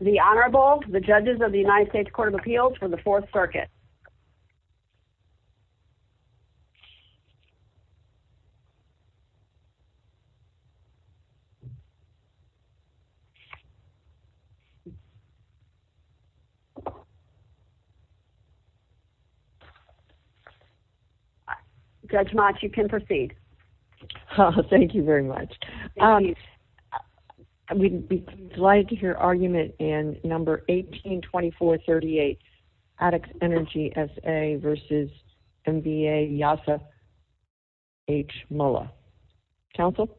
The Honorable, the Judges of the United States Court of Appeals for the Fourth Circuit. Judge Mott, you can proceed. Thank you very much. We would like to hear argument in No. 18-2438, Addax Energy SA v. M.V.A. Yasa H. Mulla. Counsel?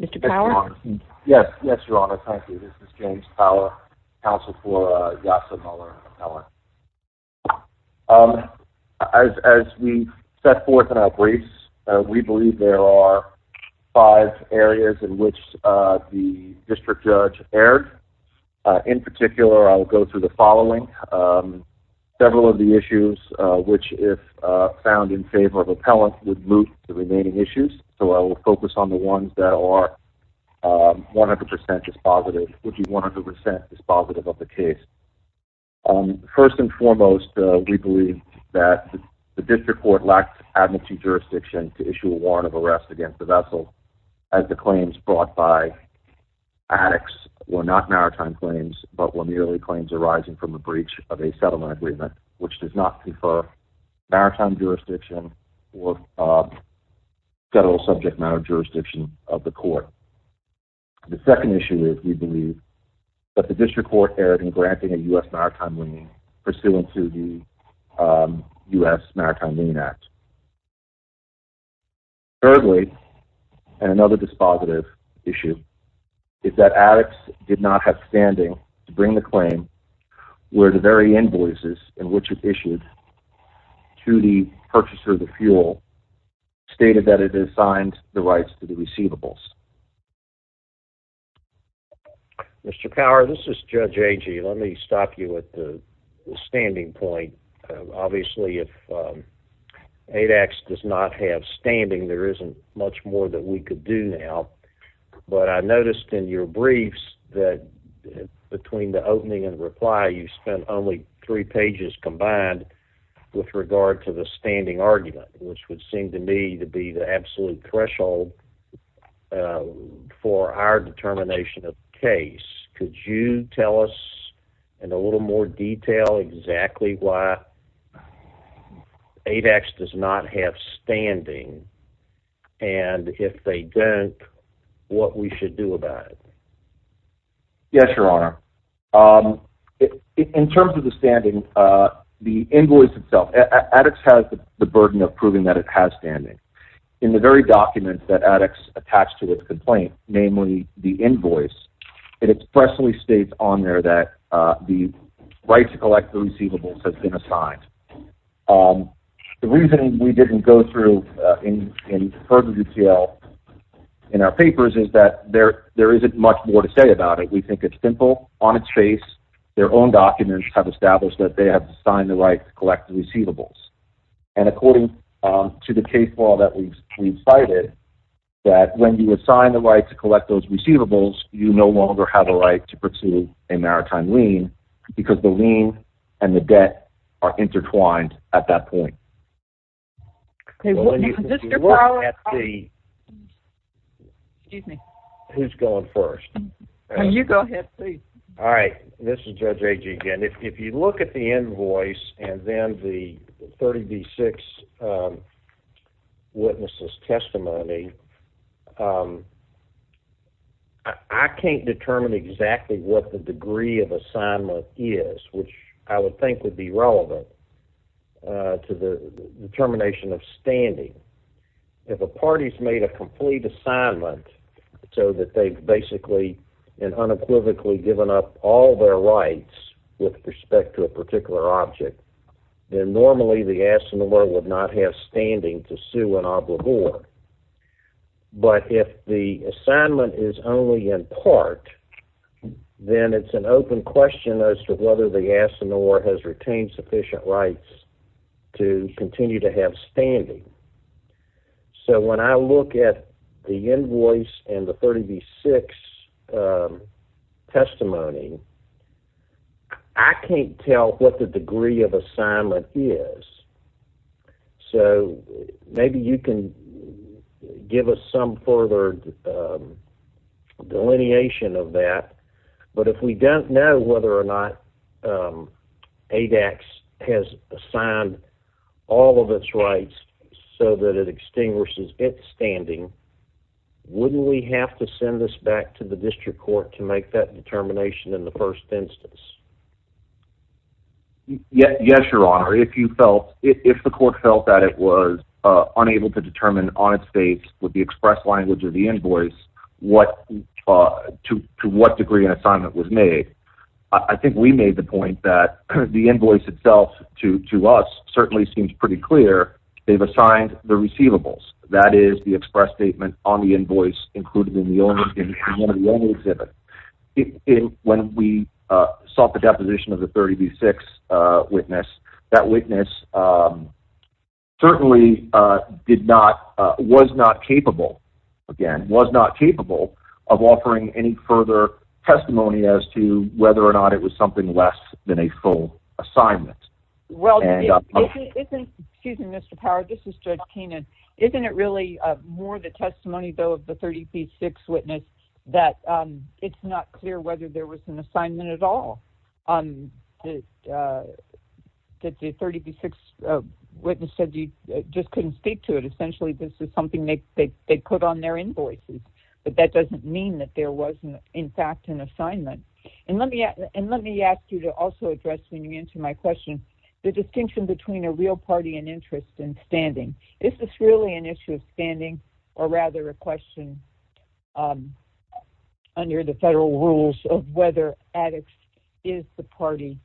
Mr. Power? Yes, Your Honor. Thank you. This is James Power, counsel for Yasa Mulla. As we set forth in our briefs, we believe there are five areas in which the district judge erred. In particular, I will go through the following. Several of the issues, which if found in favor of appellants, would move to remaining issues. So I will focus on the ones that are 100% dispositive, which is 100% dispositive of the case. First and foremost, we believe that the district court lacked administrative jurisdiction to issue a warrant of arrest against the vessel, as the claims brought by Addax were not maritime claims, but were merely claims arising from a breach of a settlement agreement, which does not confer maritime jurisdiction or federal subject matter jurisdiction of the court. The second issue is, we believe, that the district court erred in granting a U.S. maritime lien pursuant to the U.S. Maritime Lien Act. Thirdly, and another dispositive issue, is that Addax did not have standing to bring the claim where the very invoices in which it issued to the purchaser of the fuel stated that it assigned the rights to the receivables. Mr. Power, this is Judge Agee. Let me stop you at the standing point. Obviously, if Addax does not have standing, there isn't much more that we could do now. But I noticed in your briefs that between the opening and reply, you spent only three pages combined with regard to the standing argument, which would seem to me to be the absolute threshold for our determination of the case. Could you tell us in a little more detail exactly why Addax does not have standing? And if they don't, what we should do about it? Yes, Your Honor. In terms of the standing, the invoice itself, Addax has the burden of proving that it has standing. In the very document that Addax attached to its complaint, namely the invoice, it expressly states on there that the right to collect the receivables has been assigned. The reason we didn't go through in further detail in our papers is that there isn't much more to say about it. We think it's simple. On its face, their own documents have established that they have assigned the right to collect the receivables. And according to the case law that we cited, that when you assign the right to collect those receivables, you no longer have a right to pursue a maritime lien because the lien and the debt are intertwined at that point. Mr. Fowler. Excuse me. Who's going first? You go ahead, please. All right. This is Judge Agee again. If you look at the invoice and then the 30b-6 witness's testimony, I can't determine exactly what the degree of assignment is, which I would think would be relevant to the determination of standing. If a party's made a complete assignment so that they've basically and unequivocally given up all their rights with respect to a particular object, then normally the assignor would not have standing to sue an obligor. But if the assignment is only in part, then it's an open question as to whether the assignor has retained sufficient rights to continue to have standing. So when I look at the invoice and the 30b-6 testimony, I can't tell what the degree of assignment is. So maybe you can give us some further delineation of that. But if we don't know whether or not ADAX has assigned all of its rights so that it extinguishes its standing, wouldn't we have to send this back to the district court to make that determination in the first instance? Yes, Your Honor. If the court felt that it was unable to determine on its face with the express language of the invoice to what degree an assignment was made, I think we made the point that the invoice itself to us certainly seems pretty clear. They've assigned the receivables. That is the express statement on the invoice included in the only exhibit. When we sought the deposition of the 30b-6 witness, that witness certainly was not capable, again, was not capable of offering any further testimony as to whether or not it was something less than a full assignment. Excuse me, Mr. Power, this is Judge Keenan. Isn't it really more the testimony, though, of the 30b-6 witness that it's not clear whether there was an assignment at all? The 30b-6 witness said you just couldn't speak to it. Essentially, this is something they put on their invoices. But that doesn't mean that there wasn't, in fact, an assignment. And let me ask you to also address, when you answer my question, the distinction between a real party and interest in standing. Is this really an issue of standing or rather a question under the federal rules of whether addicts is the party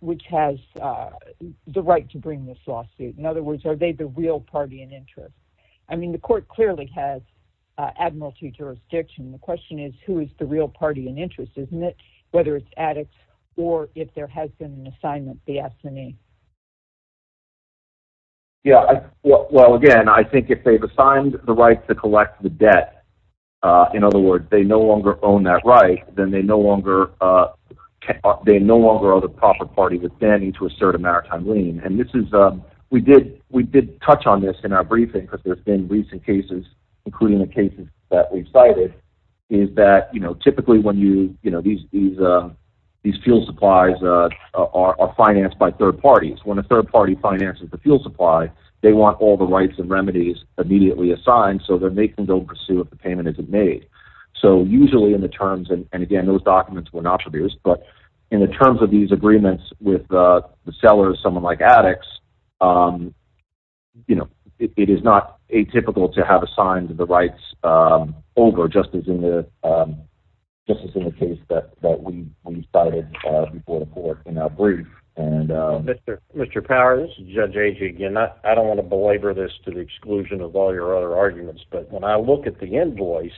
which has the right to bring this lawsuit? In other words, are they the real party in interest? I mean, the court clearly has admiralty jurisdiction. The question is who is the real party in interest, isn't it? Whether it's addicts or if there has been an assignment, the S&E. Yeah, well, again, I think if they've assigned the right to collect the debt, in other words, they no longer own that right, then they no longer are the proper party with standing to assert a maritime lien. We did touch on this in our briefing because there's been recent cases, including the cases that we've cited, is that typically when these fuel supplies are financed by third parties, when a third party finances the fuel supply, they want all the rights and remedies immediately assigned so that they can go pursue if the payment isn't made. So usually in the terms, and again, those documents were not produced, but in the terms of these agreements with the seller or someone like addicts, it is not atypical to have assigned the rights over just as in the case that we cited before the court in our brief. Mr. Powers, Judge Agee, again, I don't want to belabor this to the exclusion of all your other arguments, but when I look at the invoice,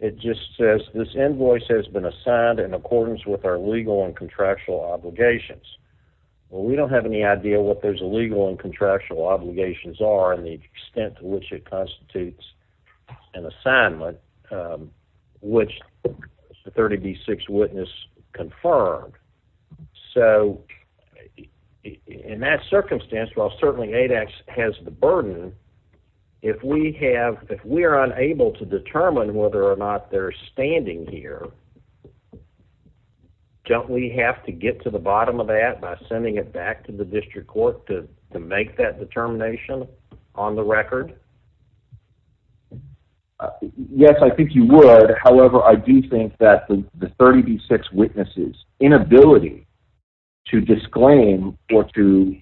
it just says this invoice has been assigned in accordance with our legal and contractual obligations. Well, we don't have any idea what those legal and contractual obligations are and the extent to which it constitutes an assignment, which the 30B6 witness confirmed. So in that circumstance, while certainly ADAC has the burden, if we are unable to determine whether or not they're standing here, don't we have to get to the bottom of that by sending it back to the district court to make that determination on the record? Yes, I think you would. However, I do think that the 30B6 witnesses' inability to disclaim or to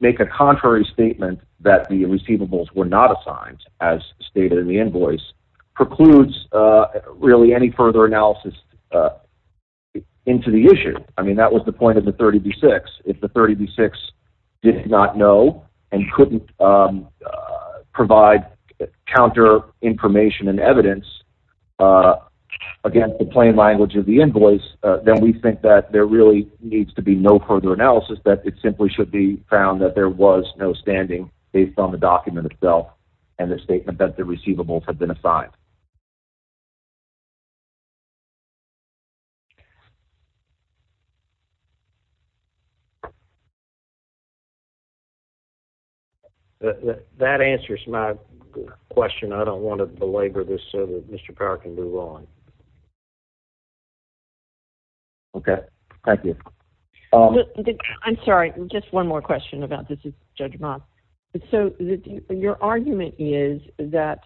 make a contrary statement that the receivables were not assigned as stated in the invoice precludes really any further analysis into the issue. I mean, that was the point of the 30B6. If the 30B6 did not know and couldn't provide counter information and evidence against the plain language of the invoice, then we think that there really needs to be no further analysis, that it simply should be found that there was no standing based on the document itself and the statement that the receivables had been assigned. That answers my question. I don't want to belabor this so that Mr. Carr can move on. Okay, thank you. I'm sorry, just one more question about this, Judge Moss. So your argument is that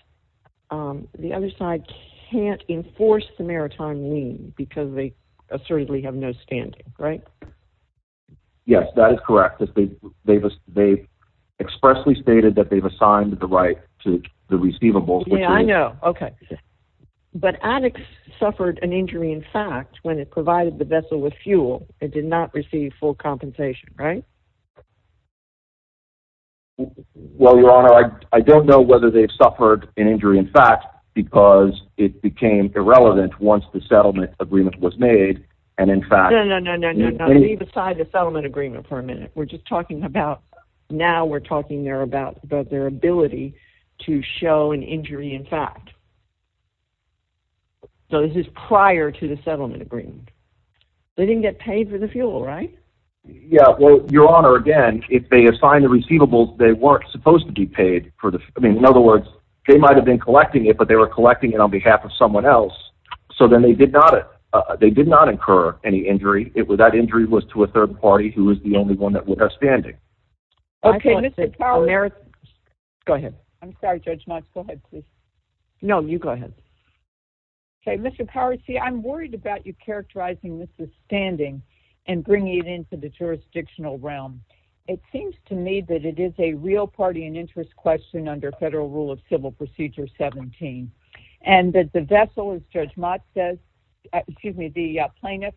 the other side can't enforce the maritime lien because they assertively have no standing, right? Yes, that is correct. They expressly stated that they've assigned the right to the receivables. Yeah, I know. Okay. But ADEX suffered an injury in fact when it provided the vessel with fuel. It did not receive full compensation, right? Well, Your Honor, I don't know whether they've suffered an injury in fact because it became irrelevant once the settlement agreement was made. No, no, no, leave aside the settlement agreement for a minute. We're just talking about, now we're talking about their ability to show an injury in fact. So this is prior to the settlement agreement. They didn't get paid for the fuel, right? Yeah, well, Your Honor, again, if they assigned the receivables, they weren't supposed to be paid. I mean, in other words, they might have been collecting it, but they were collecting it on behalf of someone else. So then they did not incur any injury. That injury was to a third party who was the only one that would have standing. Okay, Mr. Power, there... Go ahead. I'm sorry, Judge Knox. Go ahead, please. No, you go ahead. Okay, Mr. Power, see, I'm worried about you characterizing this as standing and bringing it into the jurisdictional realm. It seems to me that it is a real party and interest question under Federal Rule of Civil Procedure 17 and that the vessel, as Judge Mott says... Excuse me, the plaintiff,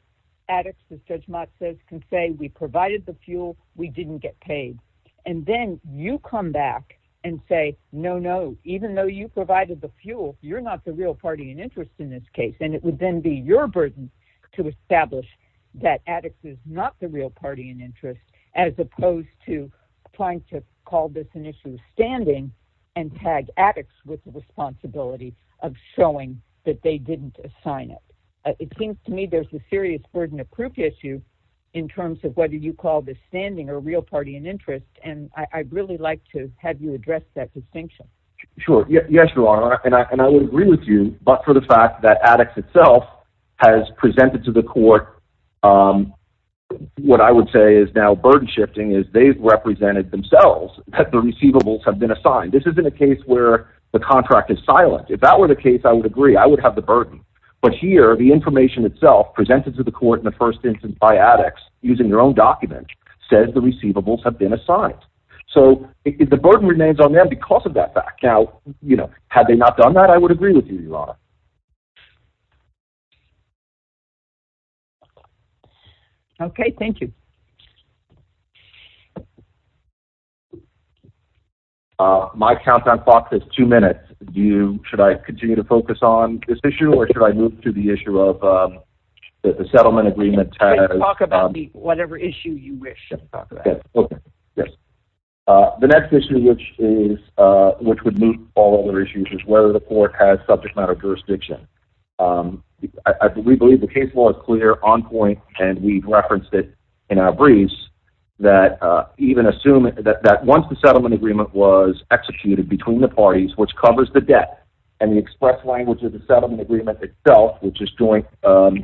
addicts, as Judge Mott says, can say, we provided the fuel, we didn't get paid. And then you come back and say, no, no, even though you provided the fuel, you're not the real party and interest in this case. And it would then be your burden to establish that addicts is not the real party and interest as opposed to trying to call this an issue of standing and tag addicts with the responsibility of showing that they didn't assign it. It seems to me there's a serious burden of proof issue in terms of whether you call this standing or real party and interest. And I'd really like to have you address that distinction. Sure. Yes, Your Honor. And I would agree with you, but for the fact that addicts itself has presented to the court what I would say is now burden shifting is they've represented themselves that the receivables have been assigned. This isn't a case where the contract is silent. If that were the case, I would agree. I would have the burden. But here, the information itself presented to the court in the first instance by addicts using their own document says the receivables have been assigned. So the burden remains on them because of that fact. Now, you know, had they not done that, I would agree with you, Your Honor. Okay. Thank you. My countdown clock is two minutes. Should I continue to focus on this issue or should I move to the issue of the settlement agreement? Talk about whatever issue you wish to talk about. Okay. Yes. The next issue which would move all other issues is whether the court has subject matter jurisdiction. We believe the case law is clear, on point, and we've referenced it in our briefs, that once the settlement agreement was executed between the parties, which covers the debt, and the express language of the settlement agreement itself, which is joint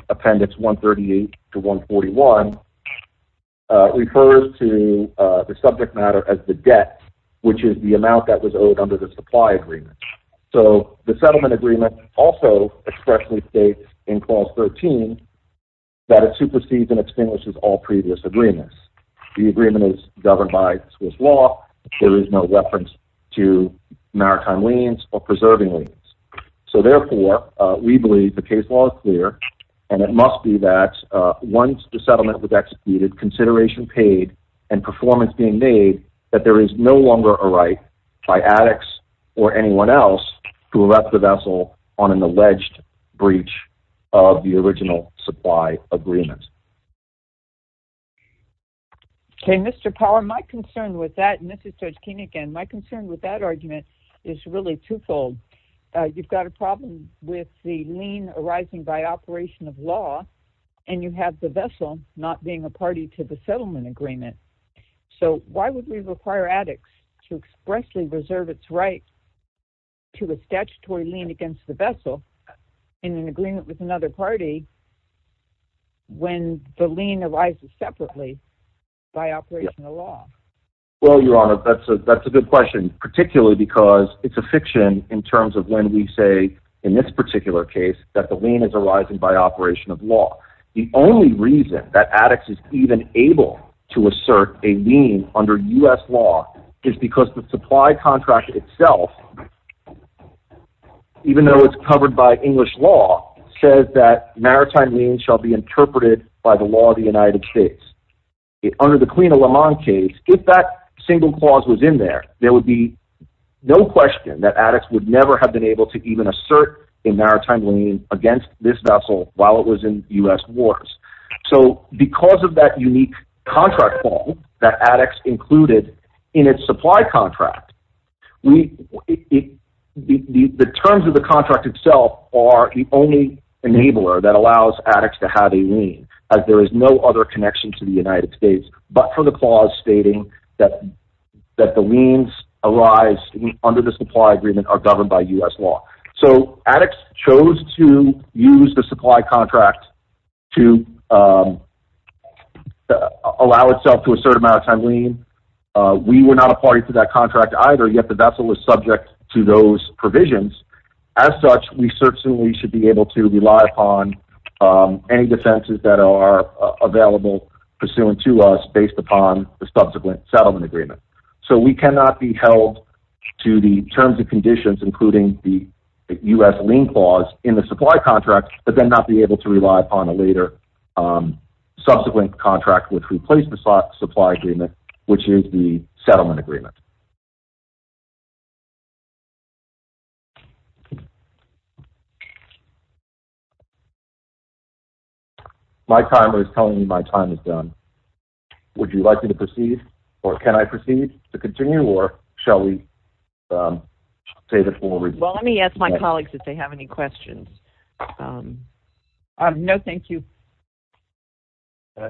appendix 138 to 141, refers to the subject matter as the debt, which is the amount that was owed under the supply agreement. So the settlement agreement also expressly states in clause 13 that it supersedes and extinguishes all previous agreements. The agreement is governed by Swiss law. There is no reference to maritime liens or preserving liens. So therefore, we believe the case law is clear, and it must be that once the settlement was executed, consideration paid, and performance being made, that there is no longer a right by addicts or anyone else who left the vessel on an alleged breach of the original supply agreement. Okay, Mr. Power, my concern with that, and this is Judge Keene again, my concern with that argument is really twofold. You've got a problem with the lien arising by operation of law, and you have the vessel not being a party to the settlement agreement. So why would we require addicts to expressly reserve its right to a statutory lien against the vessel in an agreement with another party when the lien arises separately by operation of law? Well, Your Honor, that's a good question, particularly because it's a fiction in terms of when we say, in this particular case, that the lien is arising by operation of law. The only reason that addicts is even able to assert a lien under U.S. law is because the supply contract itself, even though it's covered by English law, says that maritime lien shall be interpreted by the law of the United States. Under the Queen of Le Mans case, if that single clause was in there, there would be no question that addicts would never have been able to even assert a maritime lien against this vessel while it was in U.S. wars. So because of that unique contract form that addicts included in its supply contract, the terms of the contract itself are the only enabler that allows addicts to have a lien, as there is no other connection to the United States but for the clause stating that the liens arise under the supply agreement are governed by U.S. law. So addicts chose to use the supply contract to allow itself to assert a maritime lien. We were not a party to that contract either, yet the vessel was subject to those provisions. As such, we certainly should be able to rely upon any defenses that are available pursuant to us based upon the subsequent settlement agreement. So we cannot be held to the terms and conditions, including the U.S. lien clause, in the supply contract, but then not be able to rely upon a later subsequent contract which replaced the supply agreement, which is the settlement agreement. My timer is telling me my time is done. Would you like me to proceed, or can I proceed to continue, or shall we take it forward? Well, let me ask my colleagues if they have any questions. No, thank you.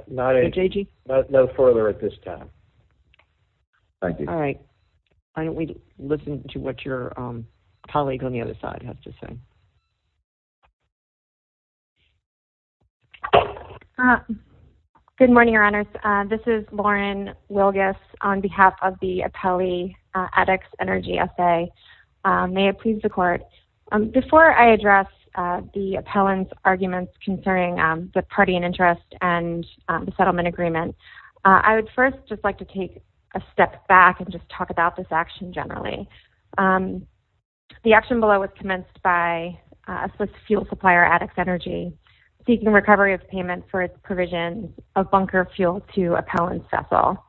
No further at this time. Thank you. Why don't we listen to what your colleague on the other side has to say. Good morning, Your Honors. This is Lauren Wilgus on behalf of the appellee addicts energy assay. May it please the court. Before I address the appellant's arguments concerning the party in interest and the settlement agreement, I would first just like to take a step back and just talk about this action generally. The action below was commenced by a fuel supplier, addicts energy, seeking recovery of payment for its provision of bunker fuel to appellant's vessel.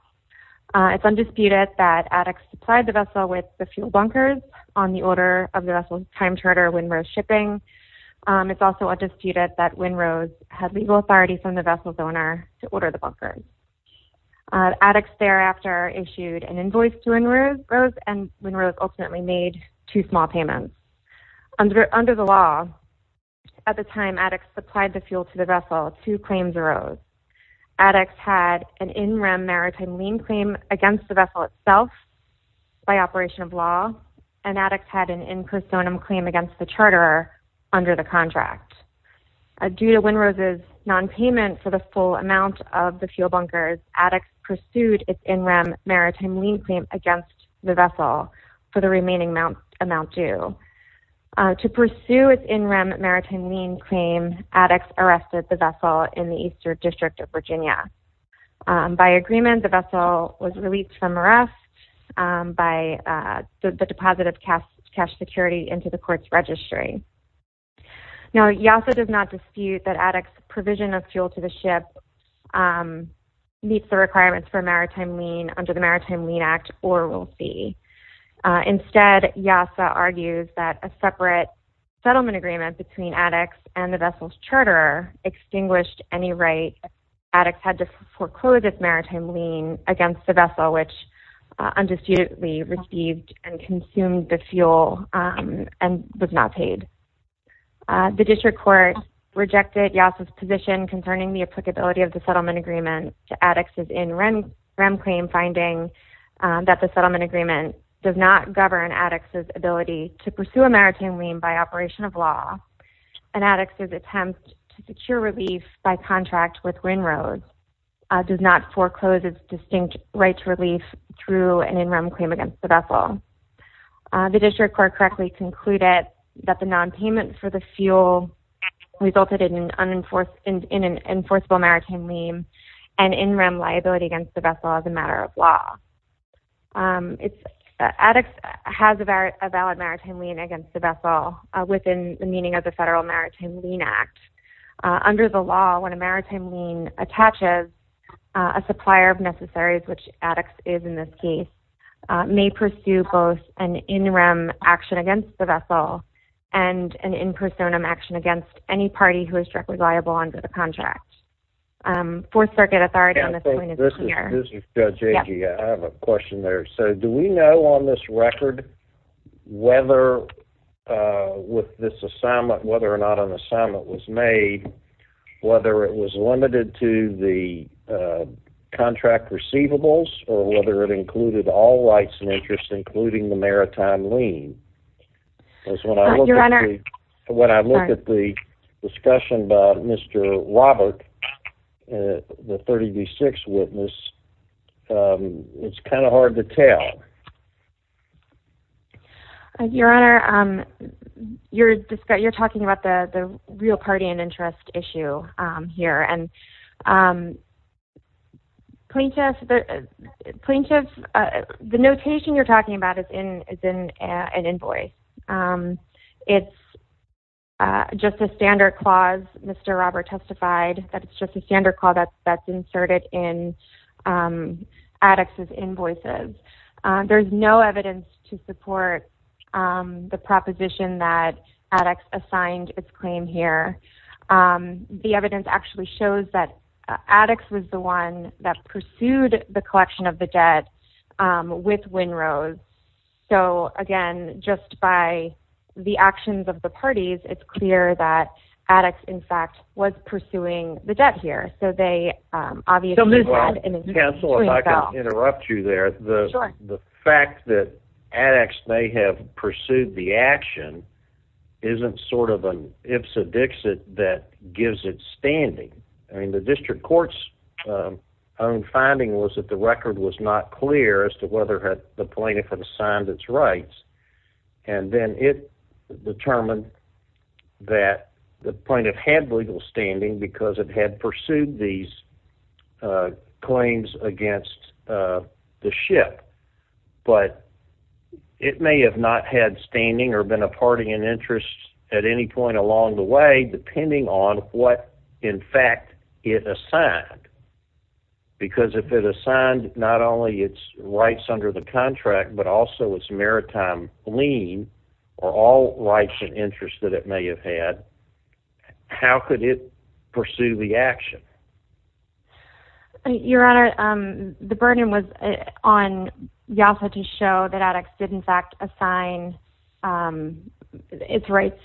It's undisputed that addicts supplied the vessel with the fuel bunkers on the order of the vessel's time charter, Winrose Shipping. It's also undisputed that Winrose had legal authority from the vessel's owner to order the bunkers. Addicts thereafter issued an invoice to Winrose, and Winrose ultimately made two small payments. Under the law, at the time addicts supplied the fuel to the vessel, two claims arose. Addicts had an in rem maritime lien claim against the vessel itself by operation of law, and addicts had an in personam claim against the charter under the contract. Due to Winrose's nonpayment for the full amount of the fuel bunkers, addicts pursued its in rem maritime lien claim against the vessel for the remaining amount due. To pursue its in rem maritime lien claim, addicts arrested the vessel in the Eastern District of Virginia. By agreement, the vessel was released from arrest by the deposit of cash security into the court's registry. Now, YASA does not dispute that addicts' provision of fuel to the ship meets the requirements for maritime lien under the Maritime Lien Act, or will see. Instead, YASA argues that a separate settlement agreement between addicts and the vessel's charterer extinguished any right addicts had to foreclose its maritime lien against the vessel, which undisputedly received and consumed the fuel and was not paid. The district court rejected YASA's position concerning the applicability of the settlement agreement to addicts' in rem claim, finding that the settlement agreement does not govern addicts' ability to pursue a maritime lien by operation of law, and addicts' attempt to secure relief by contract with Winrose does not foreclose its distinct right to relief through an in rem claim against the vessel. The district court correctly concluded that the nonpayment for the fuel resulted in an enforceable maritime lien and in rem liability against the vessel as a matter of law. Addicts has a valid maritime lien against the vessel within the meaning of the federal Maritime Lien Act. Under the law, when a maritime lien attaches, a supplier of necessaries, which addicts is in this case, may pursue both an in rem action against the vessel and an in personam action against any party who is directly liable under the contract. Fourth Circuit authority on this point is here. This is Judge Agee. I have a question there. So do we know on this record whether with this assignment, whether or not an assignment was made, whether it was limited to the contract receivables or whether it included all rights and interests including the maritime lien? Because when I look at the discussion by Mr. Robert, the 30 v. 6 witness, it's kind of hard to tell. Your Honor, you're talking about the real party and interest issue here, and plaintiff, the notation you're talking about is in an invoice. It's just a standard clause. Mr. Robert testified that it's just a standard clause that's inserted in addicts' invoices. There's no evidence to support the proposition that addicts assigned its claim here. The evidence actually shows that addicts was the one that pursued the collection of the debt with Winrose. So again, just by the actions of the parties, it's clear that addicts, in fact, was pursuing the debt here. Counsel, if I can interrupt you there, the fact that addicts may have that gives it standing. The district court's own finding was that the record was not clear as to whether the plaintiff had assigned its rights, and then it determined that the plaintiff had legal standing because it had pursued these claims against the ship. But it may have not had standing or been a party in interest at any point along the way, depending on what, in fact, it assigned. Because if it assigned not only its rights under the contract, but also its maritime lien or all rights and interests that it may have had, how could it pursue the action? Your Honor, the burden was on YASA to show that addicts did, in fact, assign its rights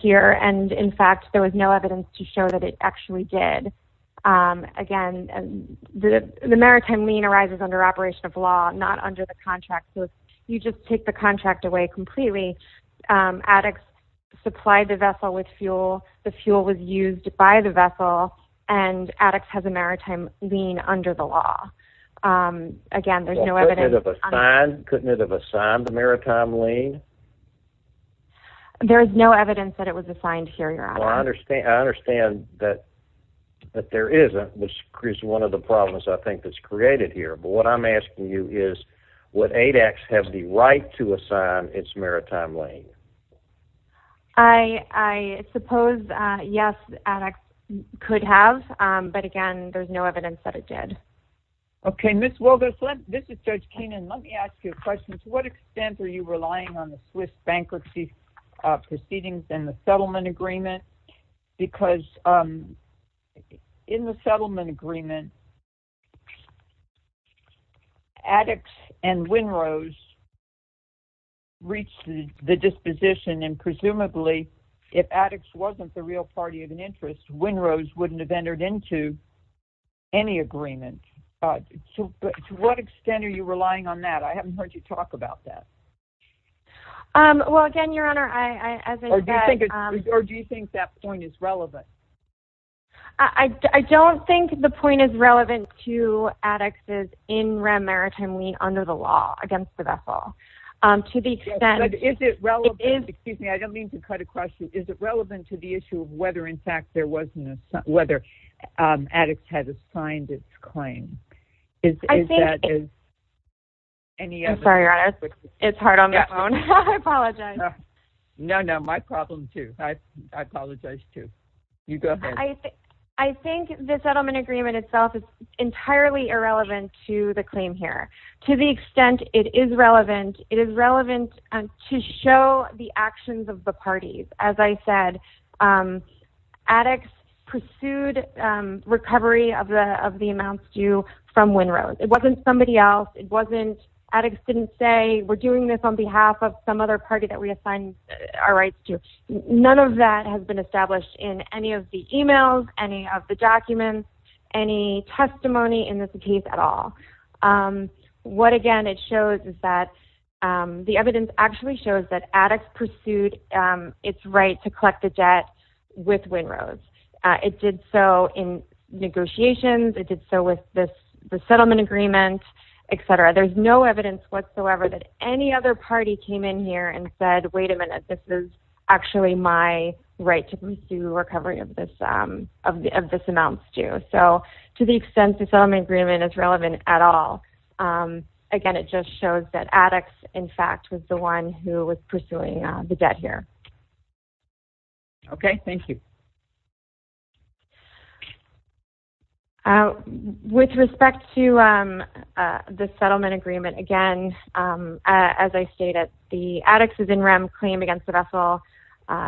here. And, in fact, there was no evidence to show that it actually did. Again, the maritime lien arises under operation of law, not under the contract. So if you just take the contract away completely, addicts supplied the vessel with fuel, the fuel was used by the vessel, and addicts have a maritime lien under the law. Again, there's no evidence. Couldn't it have assigned the maritime lien? There is no evidence that it was assigned here, Your Honor. Well, I understand that there isn't, which creates one of the problems I think that's created here. But what I'm asking you is, would ADEX have the right to assign its maritime lien? I suppose, yes, ADEX could have. But, again, there's no evidence that it did. Okay, Ms. Wilber, this is Judge Keenan. Let me ask you a question. To what extent are you relying on the Swiss bankruptcy proceedings and the settlement agreement? Because in the settlement agreement, addicts and WINROS reached the disposition, and presumably if addicts wasn't the real party of an interest, WINROS wouldn't have entered into any agreement. To what extent are you relying on that? I haven't heard you talk about that. Well, again, Your Honor, as I said ---- Or do you think that point is relevant? I don't think the point is relevant to addicts' in rem maritime lien under the law against the vessel. To the extent ---- Is it relevant? Excuse me, I don't mean to cut across you. Is it relevant to the issue of whether, in fact, there was an assignment, whether addicts had assigned its claim? I think it's hard on the phone. I apologize. No, no, my problem, too. I apologize, too. You go ahead. I think the settlement agreement itself is entirely irrelevant to the claim here. To the extent it is relevant, it is relevant to show the actions of the parties. As I said, addicts pursued recovery of the amounts due from WINROS. It wasn't somebody else. It wasn't addicts didn't say we're doing this on behalf of some other party that we assigned our rights to. None of that has been established in any of the e-mails, any of the documents, any testimony in this case at all. What, again, it shows is that the evidence actually shows that addicts pursued its right to collect the debt with WINROS. It did so in negotiations. It did so with the settlement agreement, et cetera. There's no evidence whatsoever that any other party came in here and said, wait a minute, this is actually my right to pursue recovery of this amount due. So to the extent the settlement agreement is relevant at all, again, it just shows that addicts, in fact, was the one who was pursuing the debt here. Okay. Thank you. With respect to the settlement agreement, again, as I stated, the addicts as in REM claim against the vessel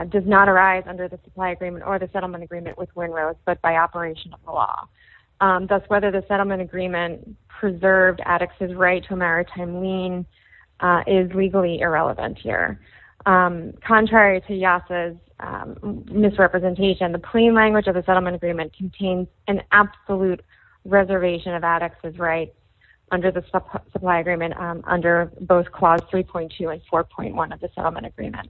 does not arise under the supply agreement or the settlement agreement with WINROS, but by operation of the law. Thus, whether the settlement agreement preserved addicts' right to a maritime lien is legally irrelevant here. Contrary to YASA's misrepresentation, the plain language of the settlement agreement contains an absolute reservation of addicts' rights under the supply agreement under both Clause 3.2 and 4.1 of the settlement agreement.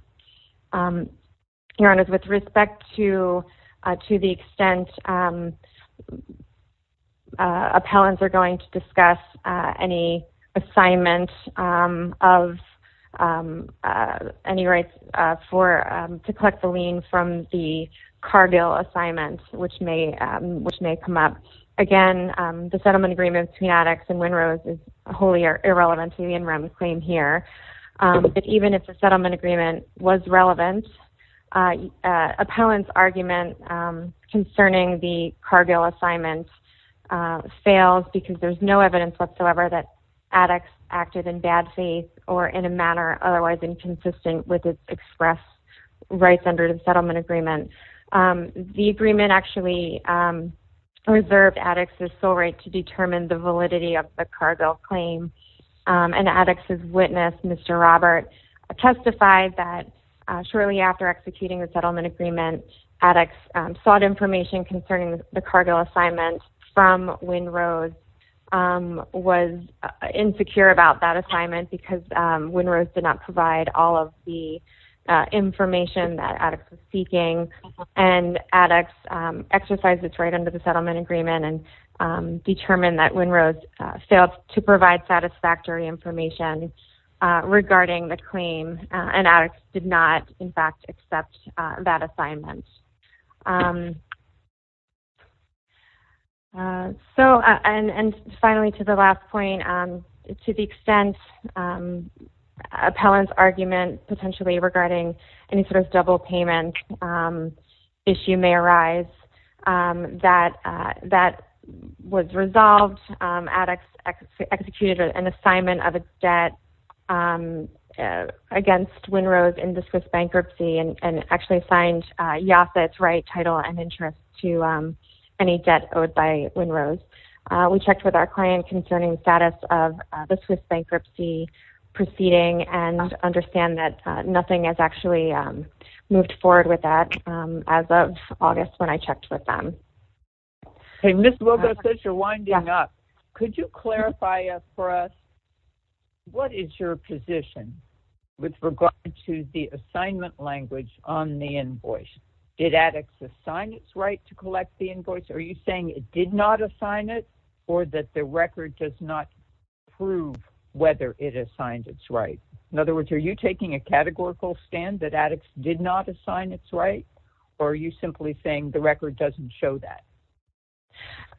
Your Honors, with respect to the extent appellants are going to discuss any assignment of any rights to collect the lien from the Cargill assignment, which may come up. Again, the settlement agreement between addicts and WINROS is wholly irrelevant to the in REM claim here. Even if the settlement agreement was relevant, appellant's argument concerning the Cargill assignment fails because there's no evidence whatsoever that addicts acted in bad faith or in a manner otherwise inconsistent with its expressed rights under the settlement agreement. The agreement actually reserved addicts' sole right to determine the validity of the Cargill claim. And addicts' witness, Mr. Robert, testified that shortly after executing the settlement agreement, addicts sought information concerning the Cargill assignment from WINROS was insecure about that assignment because WINROS did not provide all of the information that addicts were seeking. And addicts exercised its right under the settlement agreement and determined that WINROS failed to provide satisfactory information regarding the claim. And addicts did not, in fact, accept that assignment. So, and finally, to the last point, to the extent appellant's argument potentially regarding any sort of double payment issue may arise, that was resolved. Addicts executed an assignment of a debt against WINROS in the Swiss bankruptcy and actually signed Yafit's right title and interest to any debt owed by WINROS. We checked with our client concerning the status of the Swiss bankruptcy proceeding and understand that nothing has actually moved forward with that as of August when I checked with them. Hey, Ms. Wilkos, since you're winding up, could you clarify for us what is your position with regard to the assignment language on the invoice? Did addicts assign its right to collect the invoice? Are you saying it did not assign it or that the record does not prove whether it assigned its right? In other words, are you taking a categorical stand that addicts did not assign its right? Or are you simply saying the record doesn't show that?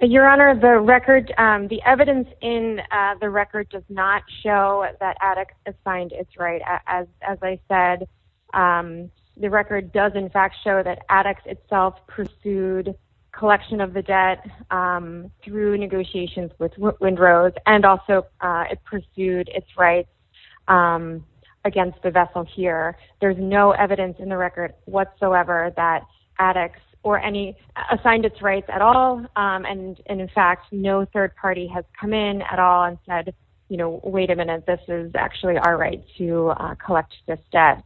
Your Honor, the record, the evidence in the record does not show that addicts assigned its right. As I said, the record does in fact show that addicts itself pursued collection of the debt through negotiations with WINROS and also it pursued its rights against the vessel here. There's no evidence in the record whatsoever that addicts or any assigned its rights at all. And in fact, no third party has come in at all and said, you know, wait a minute, this is actually our right to collect this debt.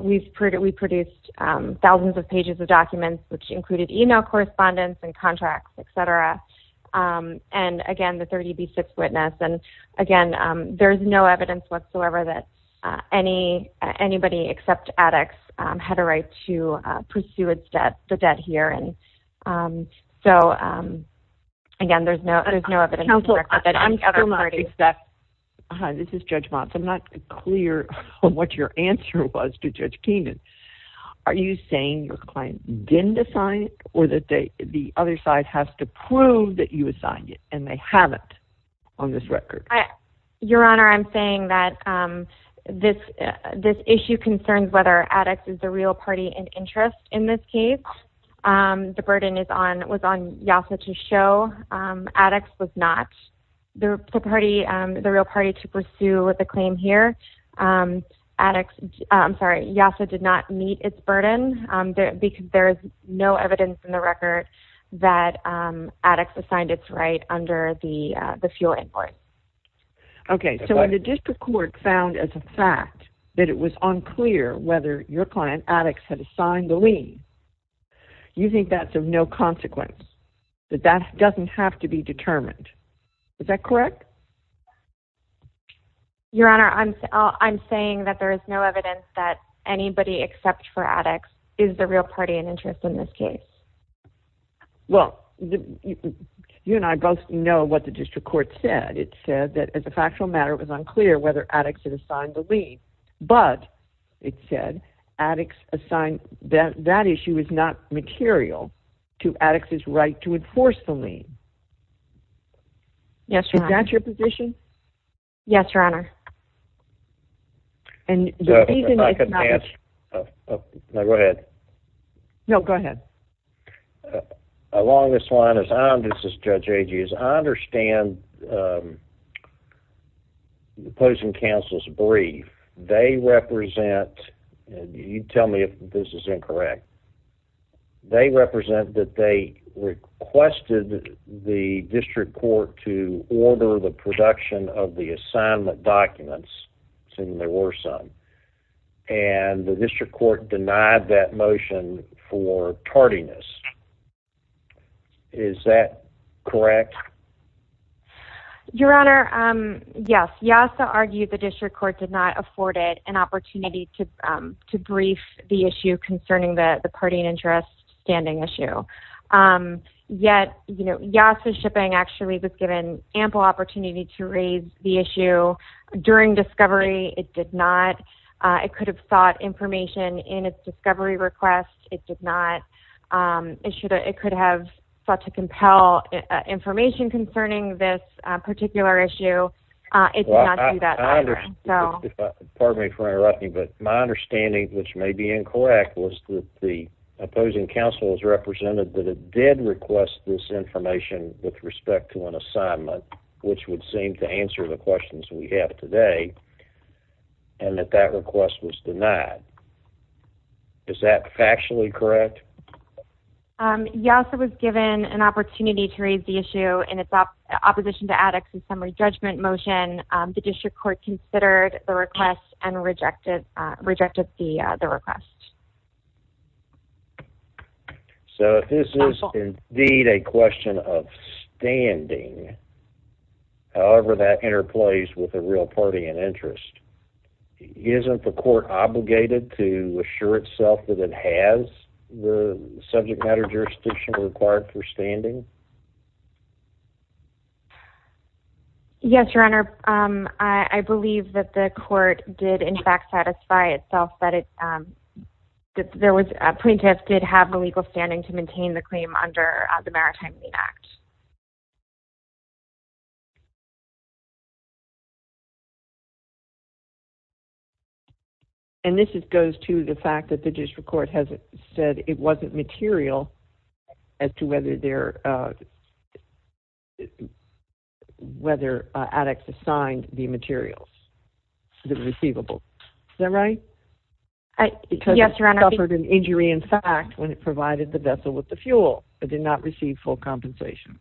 We produced thousands of pages of documents, which included email correspondence and contracts, et cetera. And again, the 30B6 witness. And again, there's no evidence whatsoever that any, anybody except addicts had a right to pursue its debt, the debt here. And so, again, there's no, there's no evidence. Hi, this is Judge Motz. I'm not clear on what your answer was to Judge Keenan. Are you saying your client didn't assign it or that they, the other side has to prove that you assigned it and they haven't on this record? Your honor, I'm saying that this, this issue concerns whether addicts is the real party and interest in this case. The burden is on, was on YASA to show addicts was not the party, the real party to pursue with the claim here addicts. I'm sorry. YASA did not meet its burden because there's no evidence in the record that, um, addicts assigned its right under the, uh, the fuel import. Okay. So when the district court found as a fact that it was unclear whether your client addicts had assigned the lien, you think that's of no consequence, that that doesn't have to be determined. Is that correct? Your honor, I'm, I'm saying that there is no evidence that anybody except for addicts is the real party and interest in this case. Well, you and I both know what the district court said. It said that as a factual matter, it was unclear whether addicts had assigned the lien, but it said addicts assigned that, that issue is not material to addicts is right to enforce the lien. Yes. Is that your position? Yes, your honor. And go ahead. No, go ahead. Uh, along this line is, this is judge ages. I understand, um, the opposing counsel's brief. They represent, you tell me if this is incorrect. They represent that. They requested the district court to order the production of the assignment documents. Assuming there were some, and the district court denied that motion for tardiness. Is that correct? Your honor. Um, yes. Yeah. So argue the district court did not afford it an opportunity to, um, to brief the issue concerning the, the party and interest standing issue. Um, yet, you know, yes, the shipping actually was given ample opportunity to raise the issue during discovery. It did not, uh, it could have sought information in its discovery request. It did not. Um, it should, it could have sought to compel information concerning this particular issue. Uh, it did not do that. So pardon me for interrupting, but my understanding, which may be incorrect was that the opposing counsel is represented that it did request this information with respect to an assignment, which would seem to answer the questions we have today. And that that request was denied. Is that factually correct? Um, yes, it was given an opportunity to raise the issue and it's up opposition to addicts and summary judgment motion. Um, the district court considered the request and rejected, uh, rejected the, uh, the request. So this is indeed a question of standing. However, that interplays with a real party and interest isn't the court obligated to assure itself that it has the subject matter jurisdiction required for standing. Yes, your Honor. Um, I believe that the court did in fact satisfy itself, but it, um, there was a plaintiff did have the legal standing to maintain the claim under the maritime lien act. And this is, goes to the fact that the district court has said it wasn't material as to whether there, uh, whether, addicts assigned the materials, the receivable. Is that right? Yes, your Honor. It suffered an injury. In fact, when it provided the vessel with the fuel, it did not receive full compensation.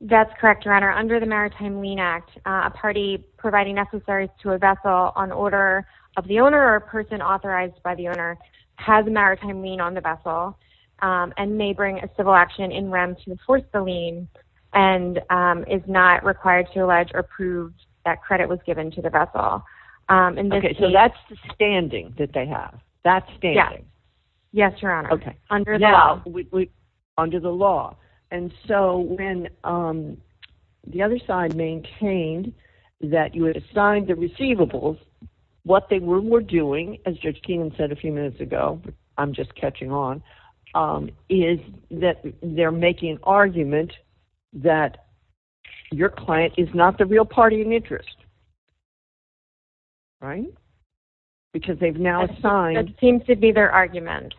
That's correct. Your Honor under the maritime lien act. Uh, a party providing necessaries to a vessel on order of the owner or person authorized by the owner has a maritime lien on the vessel, um, and may bring a civil action in REM to enforce the lien and, um, is not required to allege or prove that credit was given to the vessel. Um, and this, so that's the standing that they have. That's standing. Yes, your Honor. Okay. Under the law. And so when, um, the other side maintained that you would assign the receivables, what they were doing as judge Keenan said a few minutes ago, I'm just catching on, um, is that they're making an argument that your client is not the real party in interest, right? Because they've now assigned. It seems to be their argument,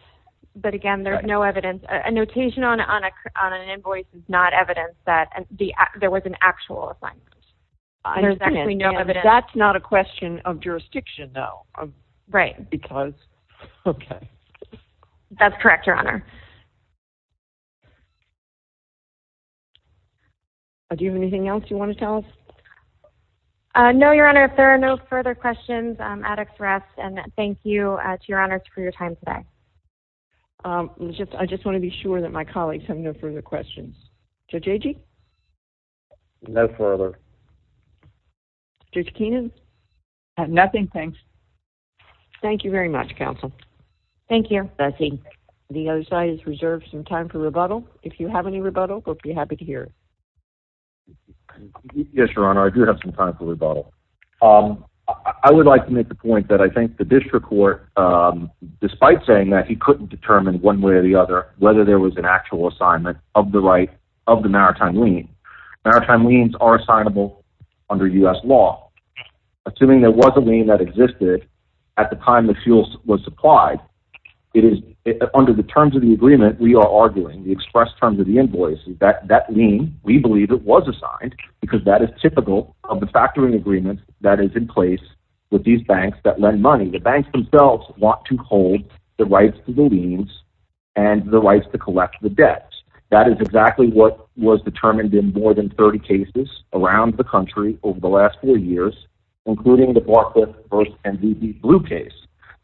but again, there's no evidence. A notation on, on a, on an invoice is not evidence that, and the, there was an actual assignment. There's actually no evidence. That's not a question of jurisdiction though, right? Because, okay, that's correct. Your Honor. Do you have anything else you want to tell us? Uh, no, your Honor. If there are no further questions, um, addicts rest and thank you to your honors for your time today. Um, just, I just want to be sure that my colleagues have no further questions. So JJ, no further just Keenan. Nothing. Thanks. Thank you very much. Counsel. Thank you. I think the other side is reserved some time for rebuttal. If you have any rebuttal, we'll be happy to hear it. Yes, your Honor. I do have some time for rebuttal. Um, I would like to make the point that I think the district court, um, despite saying that he couldn't determine one way or the other, whether there was an actual assignment of the right of the maritime lean maritime liens are assignable under us law. Assuming there was a lane that existed at the time the fuel was supplied. It is under the terms of the agreement. We are arguing the express terms of the invoices that, that mean we believe it was assigned because that is typical of the factoring agreement that is in place with these banks that lend money. The banks themselves want to hold the rights to the liens and the rights to collect the debts. That is exactly what was determined in more than 30 cases around the country over the last four years, including the Barclay first and the blue case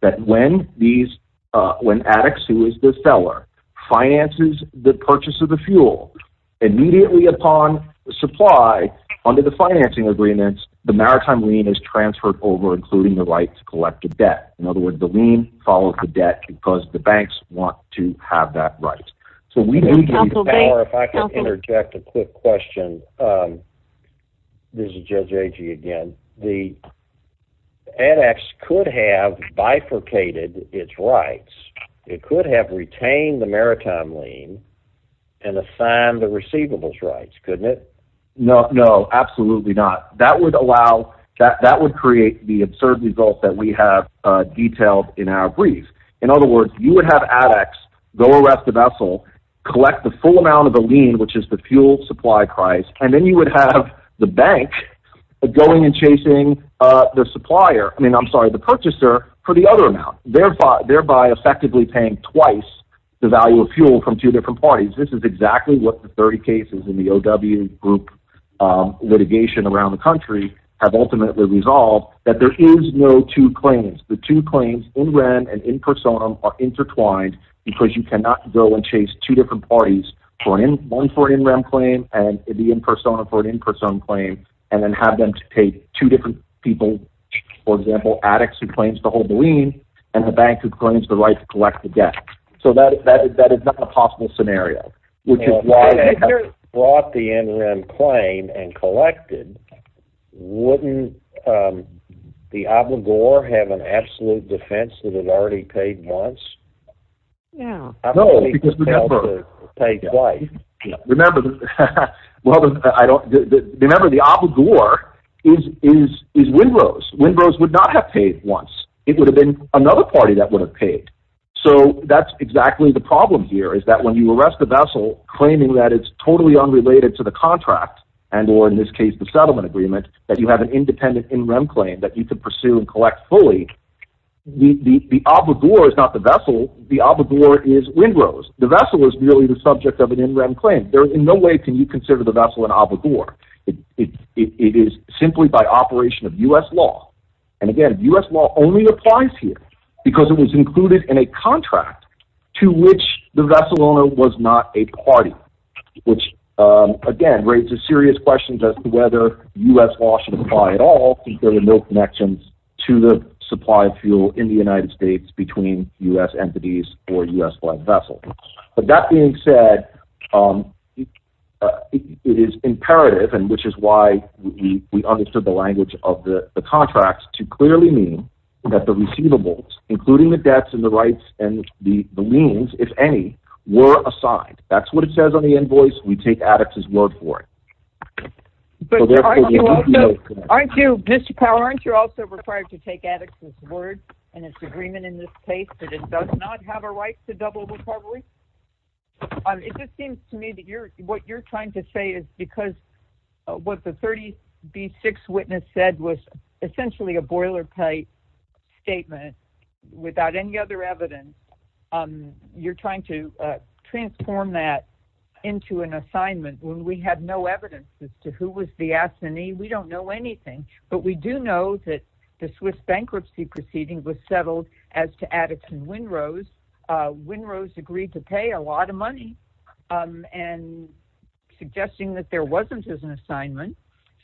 that when these, uh, when addicts who is the seller finances, the purchase of the fuel immediately upon the supply under the financing agreements, the maritime lien is transferred over, including the right to collect a debt. In other words, the lien follows the debt because the banks want to have that right. So we, if I can interject a quick question, um, this is JJG. Again, the edX could have bifurcated its rights. It could have retained the maritime lien and assign the receivables rights. Couldn't it? No, no, absolutely not. That would allow that. That would create the absurd results that we have detailed in our brief. In other words, you would have addicts go arrest the vessel, collect the full amount of the lien, which is the fuel supply price. And then you would have the bank going and chasing the supplier. I mean, I'm sorry, the purchaser for the other amount, thereby, thereby effectively paying twice the value of fuel from two different parties. This is exactly what the 30 cases in the OW group litigation around the resolve that there is no two claims. The two claims in rem and in personam are intertwined because you cannot go and chase two different parties for one for in rem claim and the in personam for an in personam claim, and then have them take two different people. For example, addicts who claims to hold the lien and the bank who claims the right to collect the debt. So that, that, that is not a possible scenario, which is why I brought the NRM claim and collected. Wouldn't, um, the obligor have an absolute defense that had already paid once. Yeah, I've only paid twice. Remember, well, I don't remember the obligor is, is, is windrows. Windrows would not have paid once it would have been another party that would have paid. So that's exactly the problem here is that when you arrest the vessel claiming that it's totally unrelated to the contract and or in this case, the settlement agreement, that you have an independent in rem claim that you could pursue and collect fully. The, the, the obligor is not the vessel. The obligor is windrows. The vessel is really the subject of an in rem claim. There is no way. Can you consider the vessel an obligor? It is simply by operation of us law. And again, us law only applies here because it was included in a contract to which the vessel owner was not a party. Which again, raises serious questions as to whether us law should apply at all. There were no connections to the supply of fuel in the United States between us entities or us one vessel. But that being said, it is imperative and which is why we, we understood the language of the contracts to clearly mean that the receivables, including the debts and the rights and the, the liens, if any were assigned, that's what it says on the invoice. We take addicts as word for it. Aren't you Mr. Power? Aren't you're also required to take addicts as word and it's agreement in this case that it does not have a right to double. It just seems to me that you're, what you're trying to say is because what the 30 B six witness said was essentially a boiler plate statement without any other evidence. You're trying to transform that into an assignment. When we had no evidence as to who was the S and E, we don't know anything, but we do know that the Swiss bankruptcy proceeding was settled as to addicts and Winrose Winrose agreed to pay a lot of money and suggesting that there wasn't as an assignment.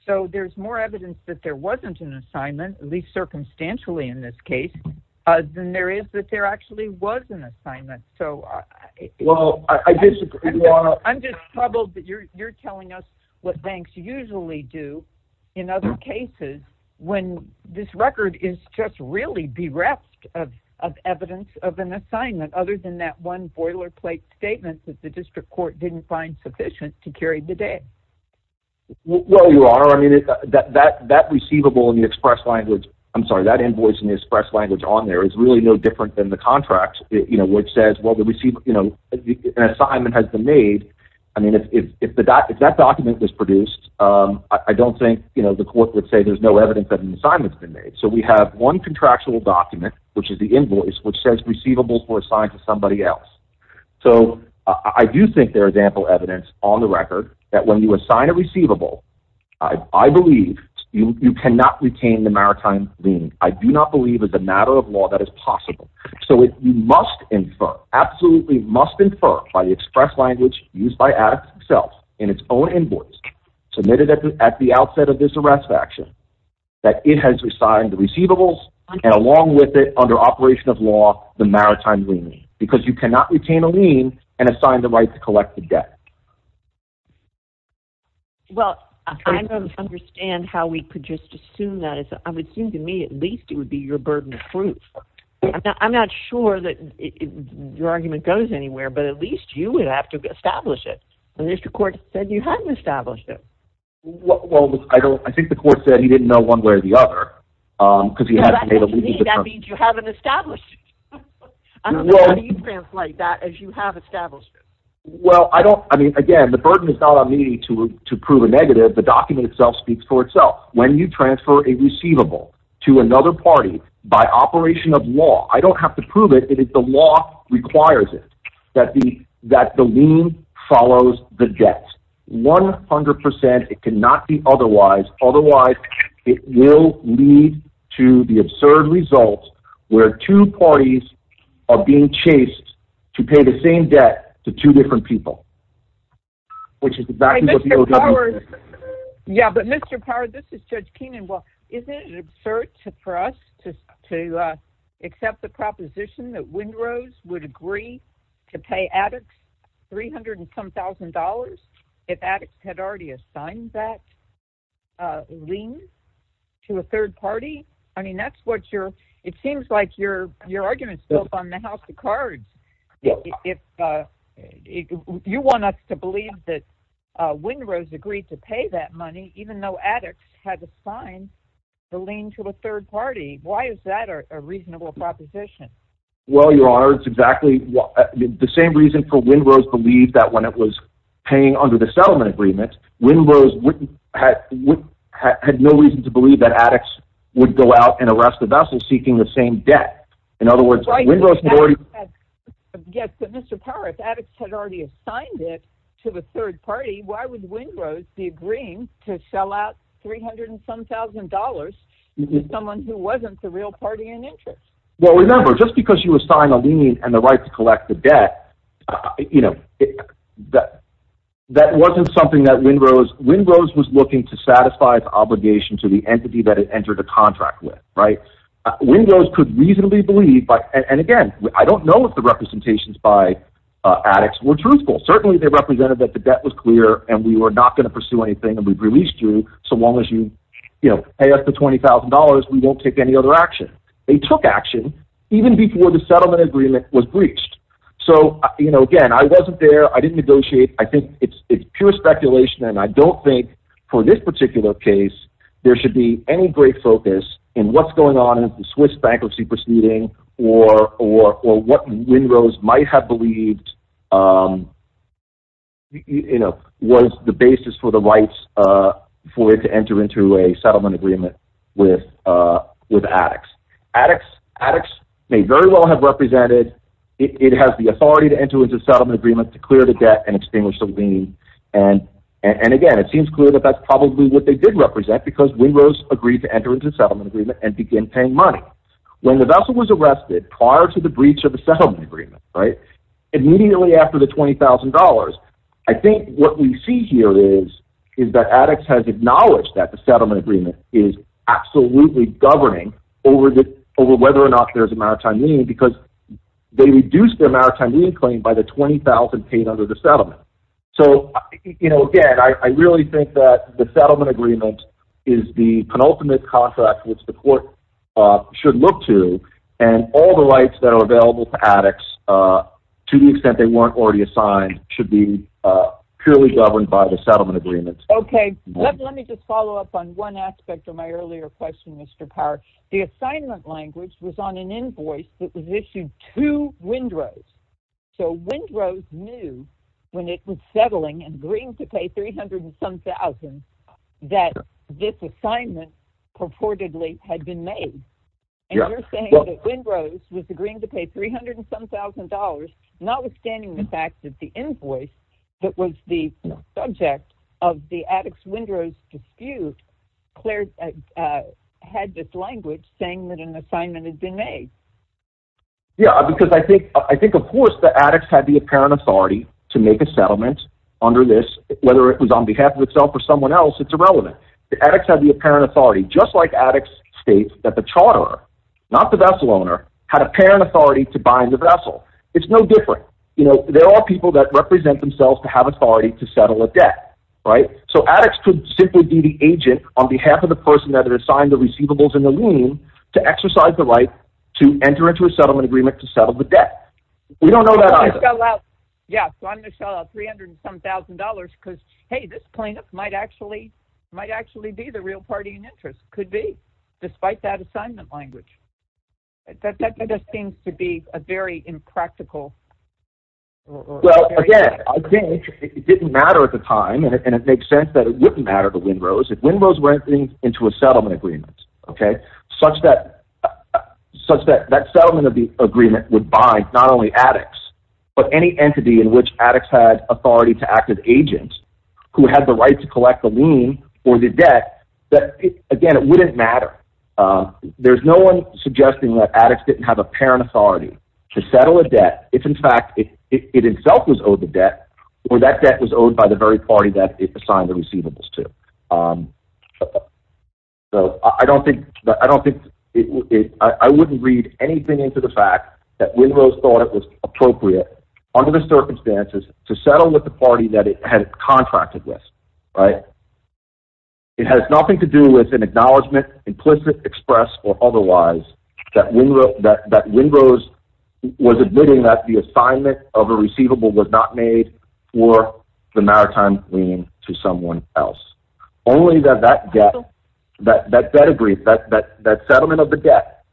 So there's more evidence that there wasn't an assignment, at least circumstantially in this case, than there is that there actually was an assignment. So I'm just troubled that you're, you're telling us what banks usually do in other cases when this record is just really bereft of, of evidence of an assignment other than that one boilerplate statements that the district court didn't find sufficient to carry the day. Well, you are. I mean, that, that, that receivable in the express language, I'm sorry, that invoice in the express language on there is really no different than the contract, you know, which says, well, the receiver, you know, an assignment has been made. I mean, if, if, if the doc, if that document was produced I don't think, you know, the court would say there's no evidence that an assignment has been made. So we have one contractual document, which is the invoice, which says receivables were assigned to somebody else. So I do think there is ample evidence on the record that when you assign a receivable, I, I believe you cannot retain the maritime lien. I do not believe as a matter of law that is possible. So you must infer absolutely must infer by the express language used by addicts itself in its own invoice submitted at the, at the outset of this arrest of action that it has assigned the receivables and along with it under operation of law, the maritime lien because you cannot retain a lien and assign the right to collect the debt. Well, I don't understand how we could just assume that it's, I would assume to me at least it would be your burden of proof. I'm not sure that your argument goes anywhere, but at least you would have to establish it. And there's the court said you hadn't established it. Well, I don't, I think the court said he didn't know one way or the other cause he had that means you haven't established it. How do you translate that as you have established it? Well, I don't, I mean, again, the burden is not on me to prove a negative. The document itself speaks for itself. When you transfer a receivable to another party by operation of law, I don't have to prove it. It is the law requires it that the, that the lien follows the debt 100%. It cannot be otherwise. Otherwise it will lead to the absurd results where two parties are being chased to pay the same debt to two different people, which is the back. Yeah. But Mr. Power, this is judge Keenan. Well, isn't it absurd for us to, to accept the proposition that wind rose would agree to pay addicts 300 and some thousand dollars. If addicts had already assigned that lien to a third party. I mean, that's what your, it seems like your, your argument is still up on the house of cards. If you want us to believe that a wind rose agreed to pay that money, even though addicts had assigned the lien to a third party, why is that a reasonable proposition? Well, your honor, it's exactly the same reason for wind rose believed that when it was paying under the settlement agreement, wind rose had no reason to believe that addicts would go out and arrest the vessel seeking the same debt. In other words, yes, but Mr. Power, if addicts had already assigned it to the third party, why would wind rose be agreeing to sell out 300 and some thousand dollars to someone who wasn't the real party in interest? Well, remember just because you assign a lien and the right to collect the debt, you know, that, that wasn't something that wind rose wind rose was looking to satisfy its obligation to the entity that it entered a contract with. Right. So when those could reasonably believe, but, and again, I don't know if the representations by addicts were truthful. Certainly they represented that the debt was clear and we were not going to pursue anything. And we've released you so long as you pay us the $20,000, we won't take any other action. They took action even before the settlement agreement was breached. So, you know, again, I wasn't there, I didn't negotiate. I think it's, it's pure speculation. And I don't think for this particular case, there should be any great focus in what's going on in the Swiss bankruptcy proceeding or, or, or what wind rose might have believed, um, you know, was the basis for the rights, uh, for it to enter into a settlement agreement with, uh, with addicts, addicts, addicts may very well have represented. It has the authority to enter into a settlement agreement to clear the debt and extinguish the lien. And, and again, it seems clear that that's probably what they did represent because we rose agreed to enter into a settlement agreement and begin paying money when the vessel was arrested prior to the breach of the settlement agreement. Right. And immediately after the $20,000, I think what we see here is, is that addicts has acknowledged that the settlement agreement is absolutely governing over the, over whether or not there's a maritime lien because they reduced their maritime lien claim by the 20,000 paid under the settlement. So, you know, again, I really think that the settlement agreement is the penultimate contract, which the court, uh, should look to and all the rights that are available to addicts, uh, to the extent they weren't already assigned should be, uh, purely governed by the settlement agreement. Okay. Let me just follow up on one aspect of my earlier question, Mr. Power, the assignment language was on an invoice that was issued to wind rose. So wind rose knew when it was settling and agreeing to pay 300 and some thousand that this assignment purportedly had been made. And you're saying that wind rose was agreeing to pay 300 and some thousand dollars, not withstanding the fact that the invoice that was the subject of the addicts wind rose dispute, Claire had this language saying that an assignment has been made. Yeah. Because I think, I think of course the addicts had the apparent authority to make a settlement under this, whether it was on behalf of itself or someone else, it's irrelevant. The addicts have the apparent authority, just like addicts state that the charter, not the vessel owner had a parent authority to buy the vessel. It's no different. You know, there are people that represent themselves to have authority to settle a debt, right? So addicts could simply be the agent on behalf of the person that had assigned the receivables and the lien to exercise the right to enter into a settlement. We don't know that either. Yeah. So I'm going to sell out 300 and some thousand dollars because, Hey, this plaintiff might actually might actually be the real party in interest could be despite that assignment language. That, that just seems to be a very impractical. Well, again, I think it didn't matter at the time. And it makes sense that it wouldn't matter to wind rose. If wind rose were entering into a settlement agreement, okay. Such that such that that settlement of the agreement would buy, not only addicts, but any entity in which addicts had authority to active agents who had the right to collect the lien or the debt that again, it wouldn't matter. Um, there's no one suggesting that addicts didn't have a parent authority to settle a debt. It's in fact, it, it itself was owed the debt or that debt was owed by the very party that it assigned the receivables to. Um, so I don't think, I don't think it, I wouldn't read anything into the fact that wind rose thought it was appropriate under the circumstances to settle with the party that it had contracted with, right. It has nothing to do with an acknowledgement, implicit express, or otherwise that we wrote that, that wind rose was admitting that the assignment of a receivable was not made for the maritime lien to someone else. Only that, that gap, that, that, that settlement of the debt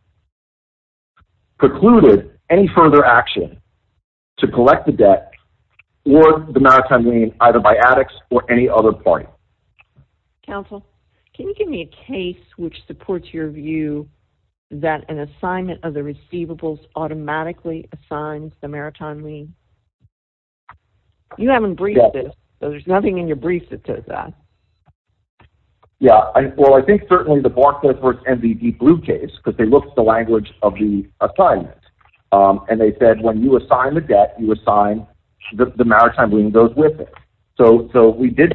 precluded any further action to collect the debt or the maritime lien, either by addicts or any other party council. Can you give me a case, which supports your view that an assignment of the receivables automatically assigned the maritime lien you haven't briefed it. So there's nothing in your brief that says that. Yeah. I, well, I think certainly the Barclays and the deep blue case, cause they looked at the language of the assignment. Um, and they said, when you assign the debt, you assign the maritime lien goes with it. So, so we did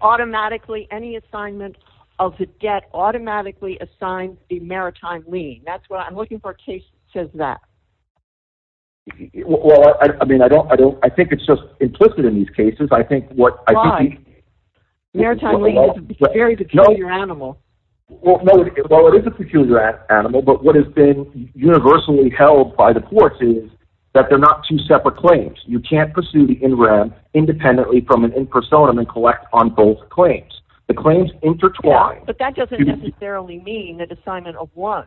automatically any assignment of the debt automatically assigned the maritime lien. That's what I'm looking for. Case says that. Well, I mean, I don't, I don't, I think it's just implicit in these cases. I think what I think maritime lien is a peculiar animal. Well, it is a peculiar animal, but what has been universally held by the courts is that they're not two separate claims. You can't pursue the in rem independently from an in personam and collect on both claims, the claims intertwined, but that doesn't necessarily mean that assignment of one,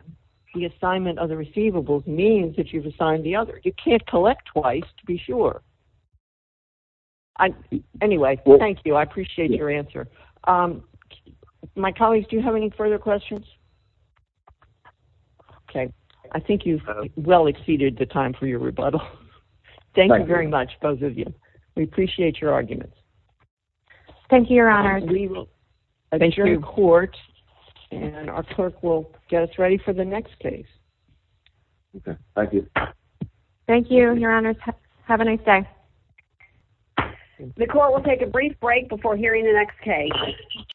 the assignment of the receivables means that you've assigned the other. You can't collect twice to be sure. I, anyway, thank you. I appreciate your answer. Um, my colleagues, do you have any further questions? Okay. I think you've well exceeded the time for your rebuttal. Thank you very much. Both of you. We appreciate your arguments. Thank you. Your honor. We will. I think you're in court and our clerk will get us ready for the next case. Okay. Thank you. Thank you. Your honor. Have a nice day. The court will take a brief break before hearing the next case.